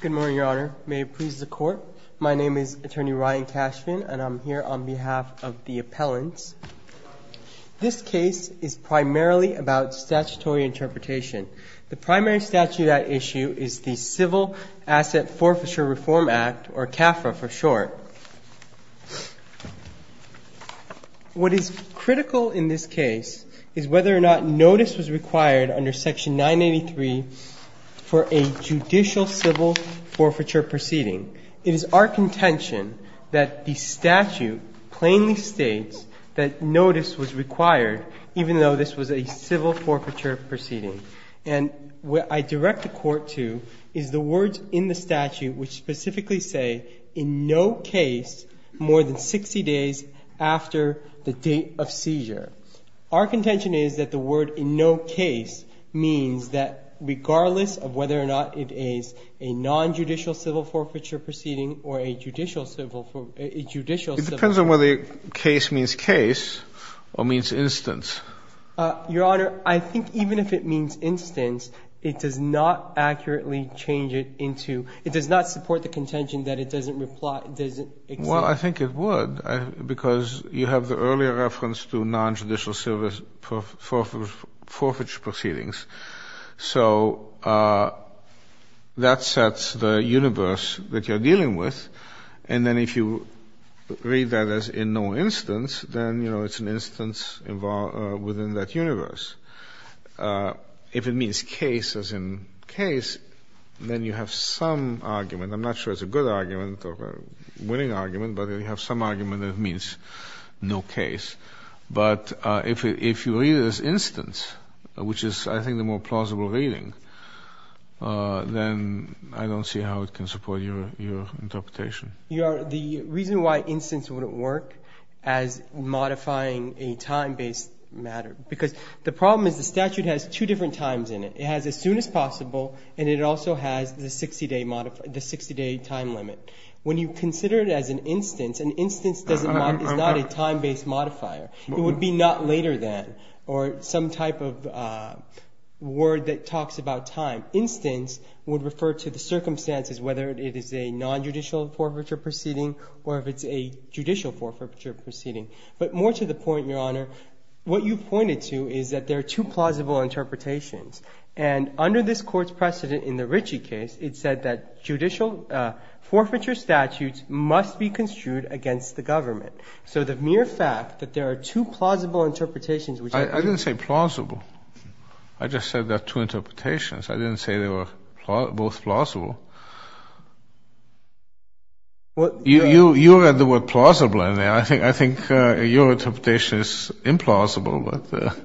Good morning, your honor. May it please the court. My name is attorney Ryan Cashman and I'm here on behalf of the appellants. This case is primarily about statutory interpretation. The primary statute at issue is the Civil Asset Forfeiture Reform Act or CAFRA for short. What is critical in this case is whether or not notice was required under section 983 for a judicial civil forfeiture proceeding. It is our contention that the statute plainly states that notice was required even though this was a civil forfeiture proceeding. And what I direct the court to is the words in the statute which specifically say in no case more than 60 days after the date of seizure. Our contention is that the word in no case means that regardless of whether or not it is a non-judicial civil forfeiture proceeding or a judicial civil forfeiture proceeding. It depends on whether case means case or means instance. Your honor, I think even if it means instance, it does not accurately change it into, it does not support the contention that it doesn't, it doesn't exist. Well, I think it would because you have the earlier reference to non-judicial civil forfeiture proceedings. So that sets the universe that you're dealing with. And then if you read that as in no instance, then, you know, it's an instance within that universe. If it means case as in case, then you have some argument. I'm not sure it's a good argument or a winning argument, but you have some argument that it means no case. But if you read it as instance, which is I think the more plausible reading, then I don't see how it can support your interpretation. Your honor, the reason why instance wouldn't work as modifying a time-based matter, because the problem is the statute has two different times in it. It has as soon as possible and it also has the 60-day time limit. When you consider it as an instance, an instance is not a time-based modifier. It would be not later than or some type of word that talks about time. Instance would refer to the circumstances, whether it is a non-judicial forfeiture proceeding or if it's a judicial forfeiture proceeding. But more to the point, your honor, what you pointed to is that there are two plausible interpretations. And under this court's precedent in the Ritchie case, it said that judicial forfeiture statutes must be construed against the government. So the mere fact that there are two plausible interpretations, which I didn't say plausible. I just said that two interpretations. I didn't say they were both plausible. You read the word plausible in there. I think your interpretation is implausible, but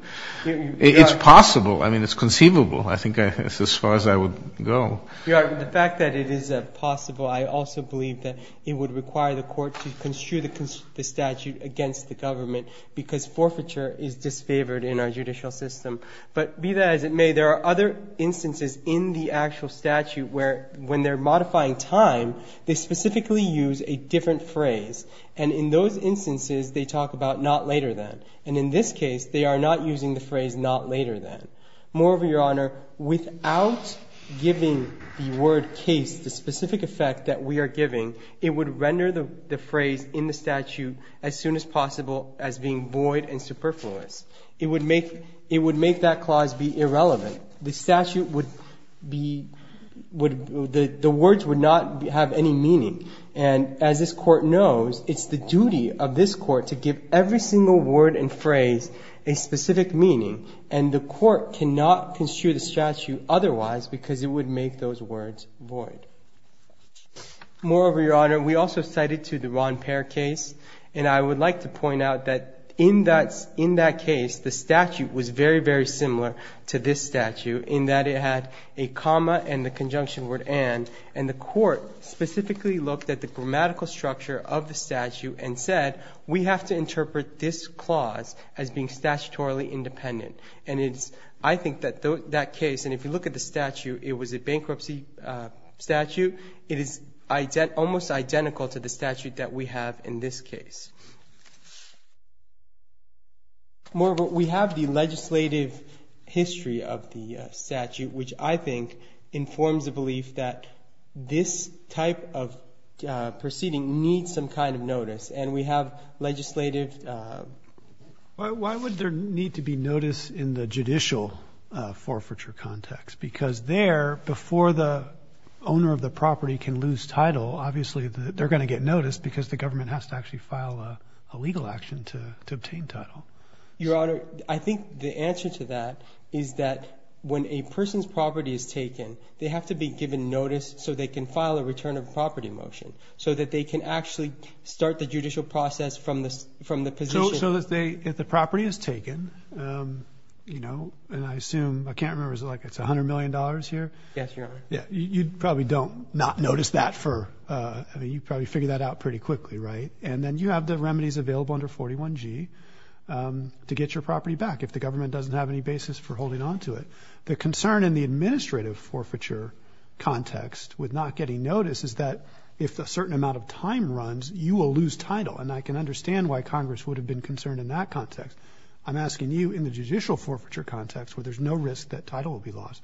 it's possible. I mean, it's conceivable. I think it's as far as I would go. Your honor, the fact that it is possible, I also believe that it would require the court to construe the statute against the government because forfeiture is disfavored in our judicial system. But be that as it may, there are other instances in the actual statute where when they're modifying time, they specifically use a different phrase. And in those instances, they talk about not later than. And in this case, they are not using the phrase not later than. Moreover, your honor, without giving the word case the specific effect that we are giving, it would render the phrase in the statute as soon as possible as being void and superfluous. It would make it would make that clause be irrelevant. The statute would be would the words would not have any meaning. And as this court knows, it's the duty of this court to give every single word and phrase a specific meaning. And the court cannot construe the statute otherwise, because it would make those words void. Moreover, your honor, we also cited to the Ron pair case. And I would like to point out that in that in that case, the statute was very, very similar to this statute in that it had a comma and the conjunction word. And and the court specifically looked at the grammatical structure of the statute and said, we have to interpret this clause as being statutorily independent. And it's I think that that case and if you look at the statute, it was a bankruptcy statute. It is almost identical to the statute that we have in this case. Moreover, we have the legislative history of the statute, which I think informs the belief that this type of proceeding needs some kind of notice and we have legislative. Why would there need to be notice in the judicial forfeiture context? Because there before the owner of the property can lose title, obviously they're going to get noticed because the government has to actually file a legal action to obtain title. Your honor, I think the answer to that is that when a person's property is taken, they have to be given notice so they can file a return of property motion so that they can actually start the judicial process from this, from the position. So if they if the property is taken, you know, and I assume I can't remember like it's one hundred million dollars here. Yes, your honor. Yeah. You probably don't not notice that for you probably figure that out pretty quickly. Right. And then you have the remedies available under 41 G to get your property back if the government doesn't have any basis for holding on to it. The concern in the administrative forfeiture context with not getting notice is that if a certain amount of time runs, you will lose title. And I can understand why Congress would have been concerned in that context. I'm asking you in the judicial forfeiture context where there's no risk that title will be lost.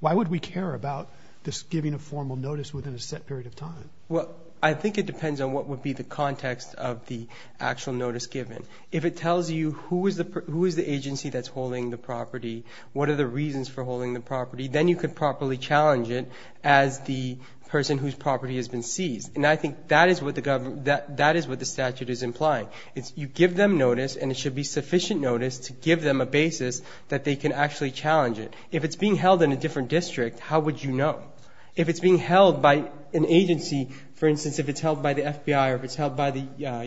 Why would we care about this giving a formal notice within a set period of time? Well, I think it depends on what would be the context of the actual notice given. If it tells you who is the who is the agency that's holding the property, what are the reasons for holding the property? Then you could properly challenge it as the person whose property has been seized. And I think that is what the government that that is what the statute is implying. It's you give them notice and it should be sufficient notice to give them a basis that they can actually challenge it. If it's being held in a different district, how would you know if it's being held by an agency? For instance, if it's held by the FBI or if it's held by the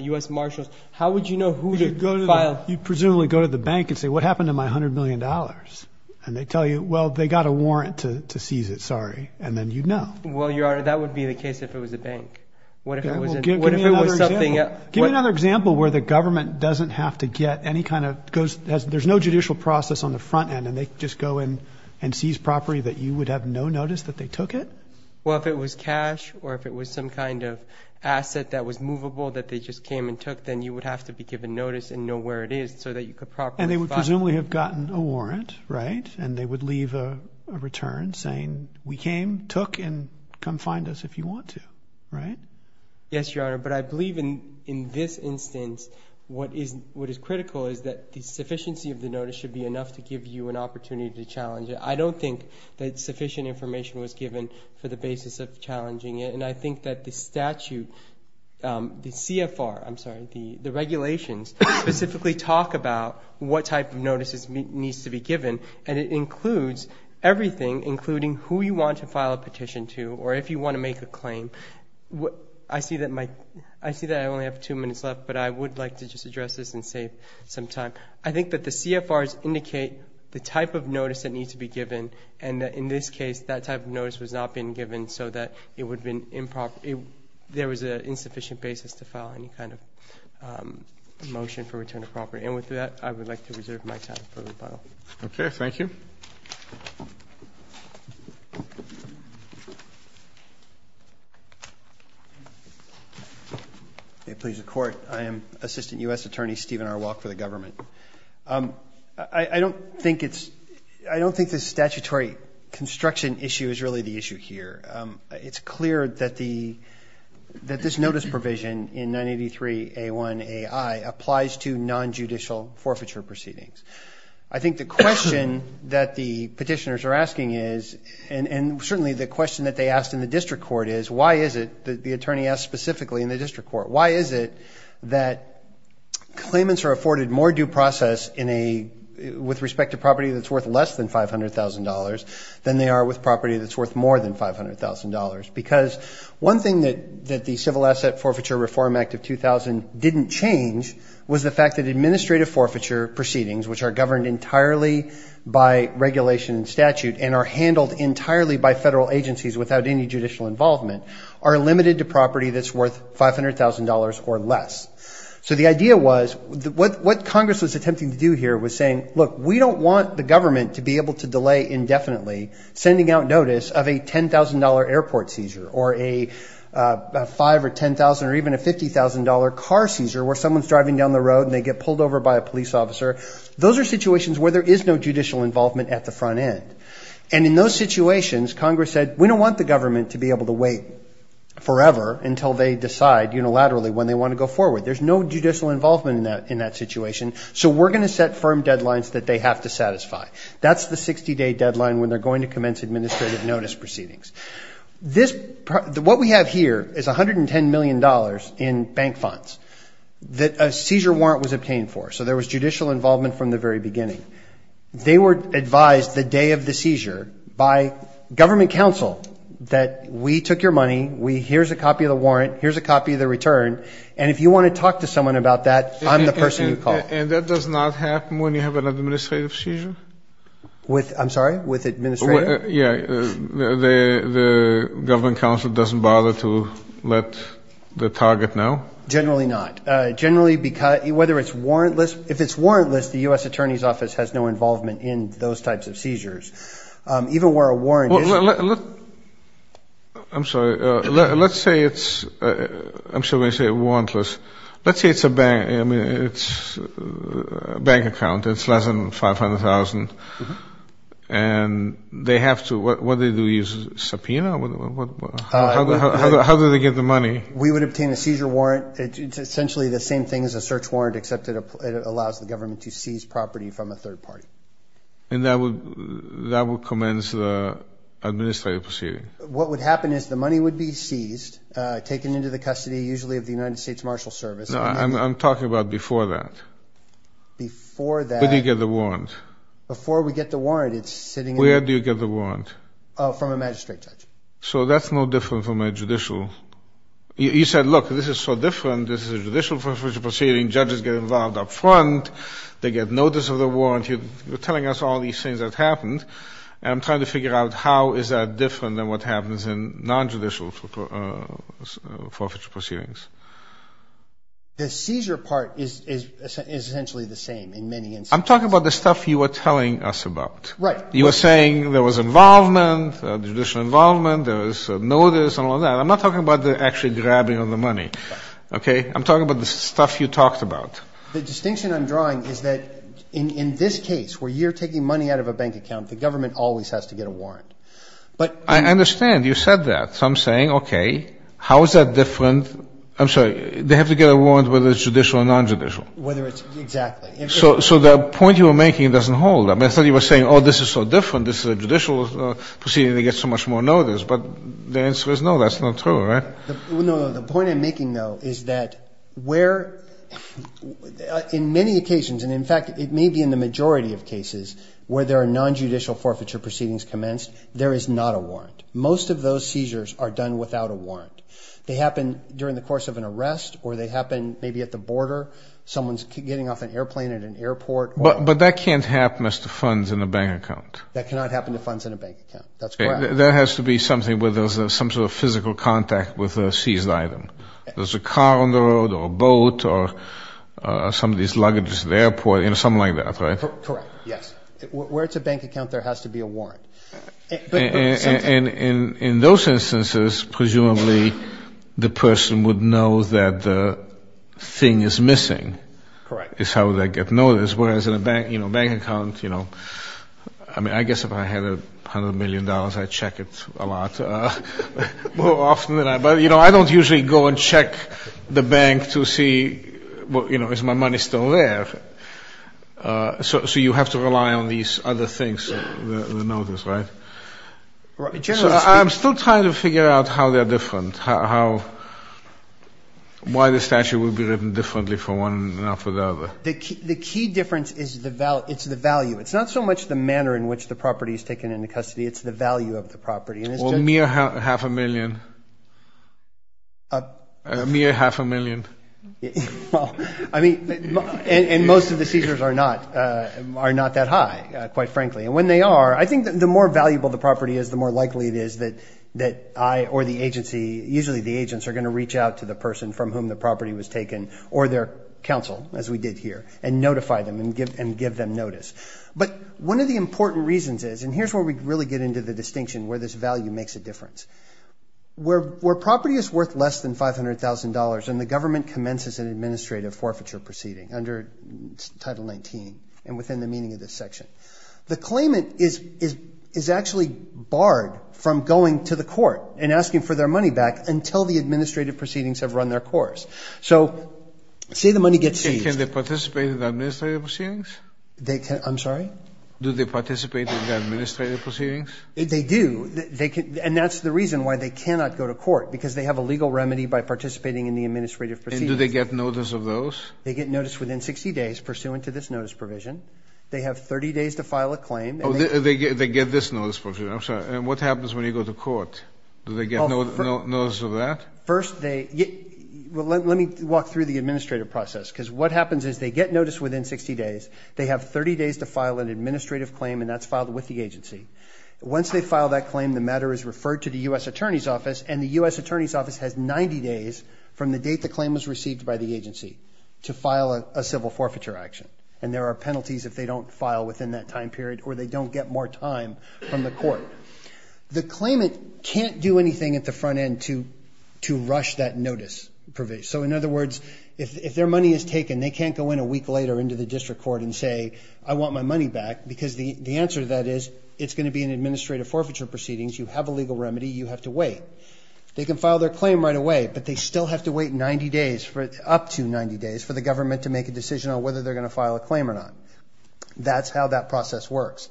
U.S. Marshals, how would you know who to go to? You presumably go to the bank and say, what happened to my hundred million dollars? And they tell you, well, they got a warrant to seize it. Sorry. And then, you know, well, you are. That would be the case if it was a bank. What if it was something else? Give me another example where the government doesn't have to get any kind of goes. There's no judicial process on the front end. And they just go in and seize property that you would have no notice that they took it. Well, if it was cash or if it was some kind of asset that was movable that they just came and took, then you would have to be given notice and know where it is so that you could probably. And they would presumably have gotten a warrant. Right. And they would leave a return saying we came, took and come find us if you want to. Right. Yes, your honor. But I believe in in this instance, what is what is critical is that the sufficiency of the notice should be enough to give you an opportunity to challenge it. I don't think that sufficient information was given for the basis of challenging it. And I think that the statute, the CFR, I'm sorry, the regulations specifically talk about what type of notices needs to be given. And it includes everything, including who you want to file a petition to or if you want to make a claim. I see that my I see that I only have two minutes left, but I would like to just address this and save some time. I think that the CFRs indicate the type of notice that needs to be given. And in this case, that type of notice was not being given so that it would have been improper. There was an insufficient basis to file any kind of motion for return of property. And with that, I would like to reserve my time for rebuttal. OK, thank you. Thank you. It pleases the court. I am Assistant U.S. Attorney Stephen R. Walk for the government. I don't think it's I don't think the statutory construction issue is really the issue here. It's clear that the that this notice provision in ninety three a one a I applies to nonjudicial forfeiture proceedings. I think the question that the petitioners are asking is and certainly the question that they asked in the district court is, why is it that the attorney asked specifically in the district court? Why is it that claimants are afforded more due process in a with respect to property that's worth less than five hundred thousand dollars than they are with property that's worth more than five hundred thousand dollars? Because one thing that that the Civil Asset Forfeiture Reform Act of 2000 didn't change was the fact that administrative forfeiture proceedings, which are governed entirely by regulation and statute, and are handled entirely by federal agencies without any judicial involvement, are limited to property that's worth five hundred thousand dollars or less. So the idea was what what Congress was attempting to do here was saying, look, we don't want the government to be able to delay indefinitely sending out notice of a ten thousand dollar airport seizure or a five or ten thousand or even a fifty thousand dollar car seizure where someone's driving down the road and they get pulled over by a police officer. Those are situations where there is no judicial involvement at the front end. And in those situations, Congress said, we don't want the government to be able to wait forever until they decide unilaterally when they want to go forward. There's no judicial involvement in that in that situation. So we're going to set firm deadlines that they have to satisfy. That's the 60 day deadline when they're going to commence administrative notice proceedings. This what we have here is one hundred and ten million dollars in bank funds that a seizure warrant was obtained for. So there was judicial involvement from the very beginning. They were advised the day of the seizure by government counsel that we took your money. We here's a copy of the warrant. Here's a copy of the return. And if you want to talk to someone about that, I'm the person you call. And that does not happen when you have an administrative seizure. I'm sorry, with administrative? Yeah. The government counsel doesn't bother to let the target know? Generally not. Generally, whether it's warrantless. If it's warrantless, the U.S. Attorney's Office has no involvement in those types of seizures. Even where a warrant is. I'm sorry. Let's say it's warrantless. Let's say it's a bank account. It's less than $500,000. And they have to, what do they do, use a subpoena? How do they get the money? We would obtain a seizure warrant. It's essentially the same thing as a search warrant, except it allows the government to seize property from a third party. And that would commence the administrative proceeding? What would happen is the money would be seized, taken into the custody, usually of the United States Marshal Service. I'm talking about before that. Before that. Where do you get the warrant? Before we get the warrant, it's sitting in. Where do you get the warrant? From a magistrate judge. So that's no different from a judicial. You said, look, this is so different. This is a judicial forfeiture proceeding. Judges get involved up front. They get notice of the warrant. You're telling us all these things that happened. And I'm trying to figure out how is that different than what happens in non-judicial forfeiture proceedings. The seizure part is essentially the same in many instances. I'm talking about the stuff you were telling us about. Right. You were saying there was involvement, judicial involvement. There was notice and all that. I'm not talking about the actual grabbing of the money. Okay? I'm talking about the stuff you talked about. The distinction I'm drawing is that in this case, where you're taking money out of a bank account, the government always has to get a warrant. I understand. You said that. So I'm saying, okay, how is that different? I'm sorry, they have to get a warrant whether it's judicial or non-judicial. Exactly. So the point you were making doesn't hold. I thought you were saying, oh, this is so different. This is a judicial proceeding. They get so much more notice. But the answer is no, that's not true, right? No, no, no. The point I'm making, though, is that where in many occasions, and, in fact, it may be in the majority of cases, where there are non-judicial forfeiture proceedings commenced, there is not a warrant. Most of those seizures are done without a warrant. They happen during the course of an arrest or they happen maybe at the border. Someone's getting off an airplane at an airport. But that can't happen as to funds in a bank account. That cannot happen to funds in a bank account. That's correct. There has to be something where there's some sort of physical contact with a seized item. There's a car on the road or a boat or somebody's luggage at the airport, you know, something like that, right? Correct, yes. Where it's a bank account, there has to be a warrant. And in those instances, presumably, the person would know that the thing is missing. Correct. It's how they get notice, whereas in a bank account, you know, I mean, I guess if I had $100 million, I'd check it a lot more often than that. But, you know, I don't usually go and check the bank to see, you know, is my money still there. So you have to rely on these other things, the notice, right? So I'm still trying to figure out how they're different, why the statute would be written differently for one and not for the other. The key difference is the value. It's not so much the manner in which the property is taken into custody. It's the value of the property. Or a mere half a million. A mere half a million. I mean, and most of the seizures are not that high, quite frankly. And when they are, I think the more valuable the property is, the more likely it is that I or the agency, usually the agents are going to reach out to the person from whom the property was taken or their counsel, as we did here, and notify them and give them notice. But one of the important reasons is, and here's where we really get into the distinction where this value makes a difference. Where property is worth less than $500,000 and the government commences an administrative forfeiture proceeding under Title 19 and within the meaning of this section, the claimant is actually barred from going to the court and asking for their money back until the administrative proceedings have run their course. So say the money gets seized. Can they participate in the administrative proceedings? I'm sorry? Do they participate in the administrative proceedings? They do. And that's the reason why they cannot go to court, because they have a legal remedy by participating in the administrative proceedings. And do they get notice of those? They get notice within 60 days pursuant to this notice provision. They have 30 days to file a claim. Oh, they get this notice provision. I'm sorry. And what happens when you go to court? Do they get notice of that? First, let me walk through the administrative process, because what happens is they get notice within 60 days. They have 30 days to file an administrative claim, and that's filed with the agency. Once they file that claim, the matter is referred to the U.S. Attorney's Office, and the U.S. Attorney's Office has 90 days from the date the claim was received by the agency to file a civil forfeiture action. And there are penalties if they don't file within that time period or they don't get more time from the court. The claimant can't do anything at the front end to rush that notice provision. So, in other words, if their money is taken, they can't go in a week later into the district court and say, I want my money back because the answer to that is it's going to be an administrative forfeiture proceedings. You have a legal remedy. You have to wait. They can file their claim right away, but they still have to wait 90 days, up to 90 days for the government to make a decision on whether they're going to file a claim or not. That's how that process works.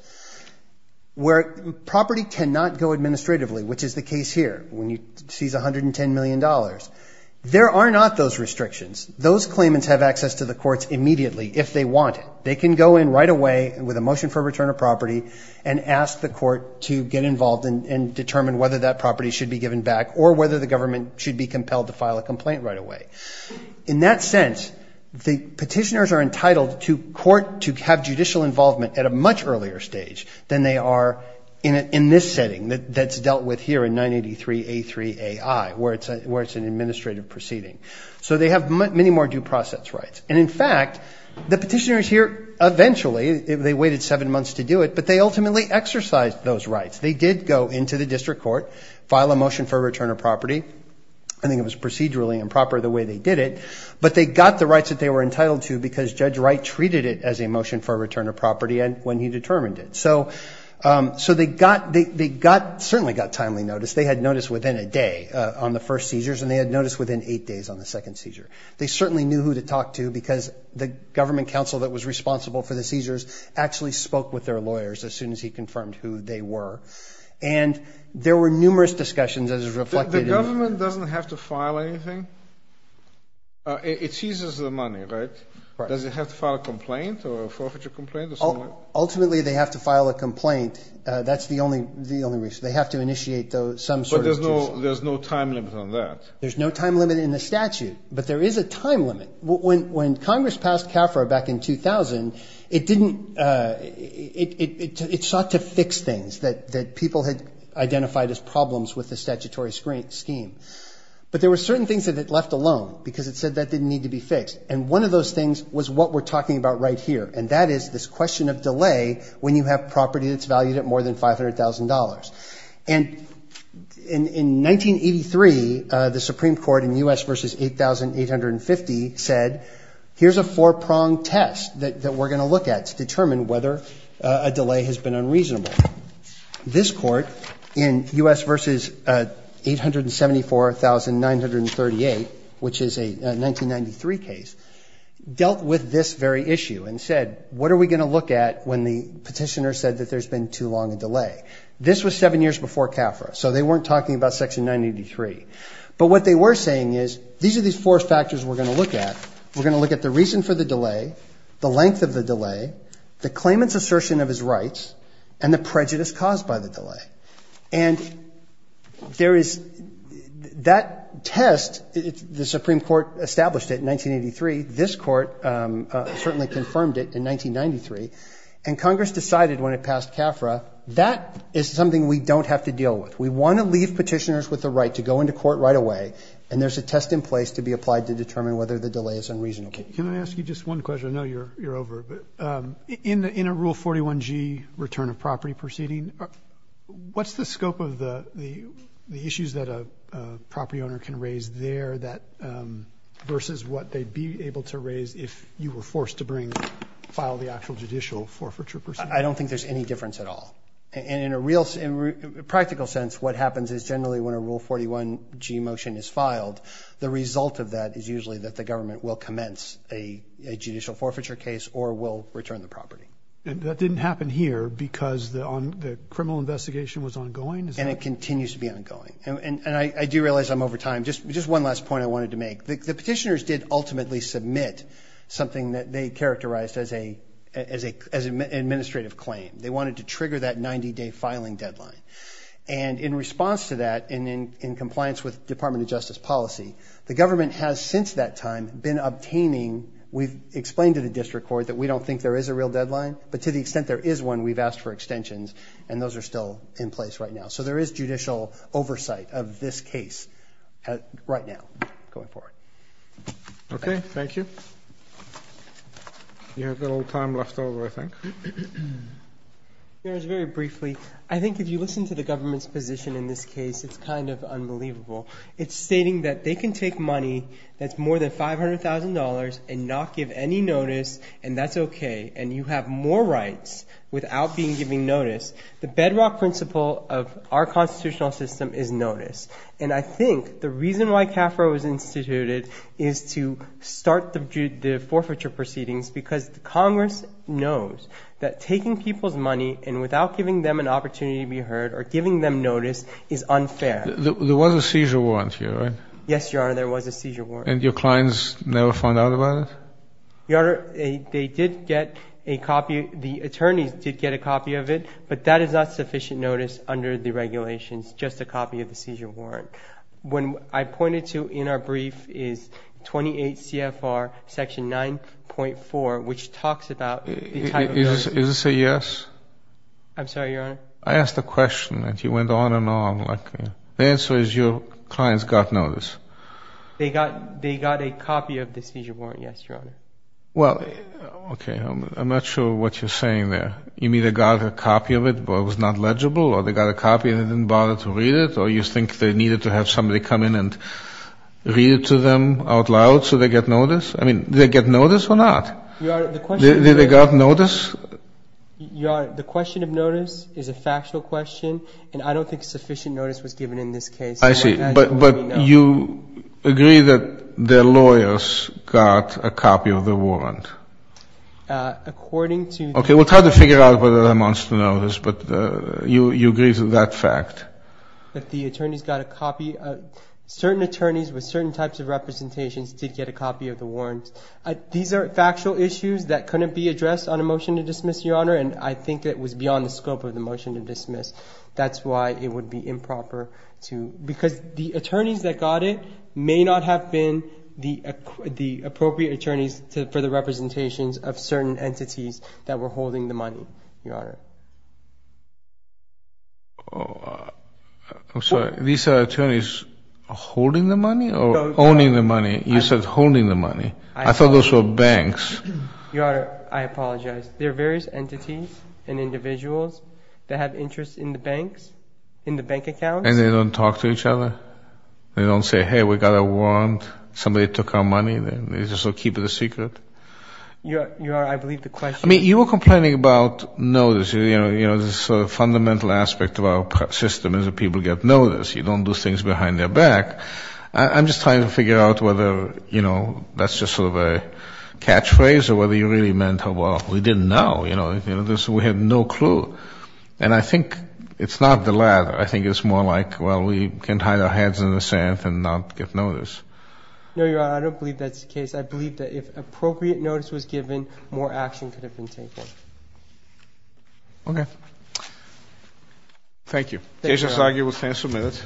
Where property cannot go administratively, which is the case here, when you seize $110 million, there are not those restrictions. Those claimants have access to the courts immediately if they want it. They can go in right away with a motion for return of property and ask the court to get involved and determine whether that property should be given back or whether the government should be compelled to file a complaint right away. In that sense, the petitioners are entitled to court to have judicial involvement at a much earlier stage than they are in this setting that's dealt with here in 983A3AI, where it's an administrative proceeding. So they have many more due process rights. And, in fact, the petitioners here eventually, they waited seven months to do it, but they ultimately exercised those rights. They did go into the district court, file a motion for return of property. I think it was procedurally improper the way they did it, but they got the rights that they were entitled to because Judge Wright treated it as a motion for return of property when he determined it. So they certainly got timely notice. They had notice within a day on the first seizures, and they had notice within eight days on the second seizure. They certainly knew who to talk to because the government counsel that was responsible for the seizures actually spoke with their lawyers as soon as he confirmed who they were. And there were numerous discussions as is reflected in the report. The government doesn't have to file anything? It seizes the money, right? Right. Does it have to file a complaint or a forfeiture complaint or something like that? Ultimately, they have to file a complaint. That's the only reason. They have to initiate some sort of decision. But there's no time limit on that. There's no time limit in the statute, but there is a time limit. When Congress passed CAFRA back in 2000, it sought to fix things that people had identified as problems with the statutory scheme. But there were certain things that it left alone because it said that didn't need to be fixed. And one of those things was what we're talking about right here, and that is this question of delay when you have property that's valued at more than $500,000. And in 1983, the Supreme Court in U.S. v. 8,850 said, here's a four-pronged test that we're going to look at to determine whether a delay has been unreasonable. This court in U.S. v. 874,938, which is a 1993 case, dealt with this very issue and said, what are we going to look at when the petitioner said that there's been too long a delay? This was seven years before CAFRA, so they weren't talking about Section 983. But what they were saying is, these are these four factors we're going to look at. We're going to look at the reason for the delay, the length of the delay, the claimant's assertion of his rights, and the prejudice caused by the delay. And there is that test. The Supreme Court established it in 1983. This court certainly confirmed it in 1993. And Congress decided when it passed CAFRA, that is something we don't have to deal with. We want to leave petitioners with the right to go into court right away, and there's a test in place to be applied to determine whether the delay is unreasonable. Can I ask you just one question? I know you're over, but in a Rule 41G return of property proceeding, what's the scope of the issues that a property owner can raise there versus what they'd be able to raise if you were forced to file the actual judicial forfeiture proceeding? I don't think there's any difference at all. And in a practical sense, what happens is generally when a Rule 41G motion is filed, the result of that is usually that the government will commence a judicial forfeiture case or will return the property. And that didn't happen here because the criminal investigation was ongoing? And it continues to be ongoing. And I do realize I'm over time. Just one last point I wanted to make. The petitioners did ultimately submit something that they characterized as an administrative claim. They wanted to trigger that 90-day filing deadline. And in response to that, in compliance with Department of Justice policy, the government has since that time been obtaining, we've explained to the district court that we don't think there is a real deadline. But to the extent there is one, we've asked for extensions. And those are still in place right now. So there is judicial oversight of this case right now going forward. Okay, thank you. You have a little time left over, I think. Very briefly, I think if you listen to the government's position in this case, it's kind of unbelievable. It's stating that they can take money that's more than $500,000 and not give any notice, and that's okay, and you have more rights without being given notice. The bedrock principle of our constitutional system is notice. And I think the reason why CAFRA was instituted is to start the forfeiture proceedings because Congress knows that taking people's money and without giving them an opportunity to be heard or giving them notice is unfair. There was a seizure warrant here, right? Yes, Your Honor, there was a seizure warrant. And your clients never found out about it? Your Honor, they did get a copy. The attorneys did get a copy of it, but that is not sufficient notice under the regulations, just a copy of the seizure warrant. What I pointed to in our brief is 28 CFR Section 9.4, which talks about the title of notice. Is this a yes? I'm sorry, Your Honor? I asked a question, and you went on and on. The answer is your clients got notice. They got a copy of the seizure warrant, yes, Your Honor. Well, okay, I'm not sure what you're saying there. You mean they got a copy of it, but it was not legible? Or they got a copy and they didn't bother to read it? Or you think they needed to have somebody come in and read it to them out loud so they get notice? I mean, did they get notice or not? Did they get notice? Your Honor, the question of notice is a factual question, and I don't think sufficient notice was given in this case. I see. But you agree that the lawyers got a copy of the warrant? According to the attorneys. Okay. We'll try to figure out whether that amounts to notice, but you agree to that fact? That the attorneys got a copy. Certain attorneys with certain types of representations did get a copy of the warrant. These are factual issues that couldn't be addressed on a motion to dismiss, Your Honor, and I think it was beyond the scope of the motion to dismiss. That's why it would be improper to – because the attorneys that got it may not have been the appropriate attorneys for the representations of certain entities that were holding the money, Your Honor. I'm sorry. These are attorneys holding the money or owning the money? You said holding the money. I thought those were banks. Your Honor, I apologize. There are various entities and individuals that have interest in the banks, in the bank accounts. And they don't talk to each other? They don't say, hey, we got a warrant, somebody took our money? They just keep it a secret? Your Honor, I believe the question is – I mean, you were complaining about notice. You know, the fundamental aspect of our system is that people get notice. You don't do things behind their back. I'm just trying to figure out whether, you know, that's just sort of a catchphrase or whether you really meant, oh, well, we didn't know. You know, we had no clue. And I think it's not the latter. I think it's more like, well, we can hide our heads in the sand and not get notice. No, Your Honor, I don't believe that's the case. I believe that if appropriate notice was given, more action could have been taken. Okay. Thank you. Thank you. Thank you. Just as I argued with counsel minutes.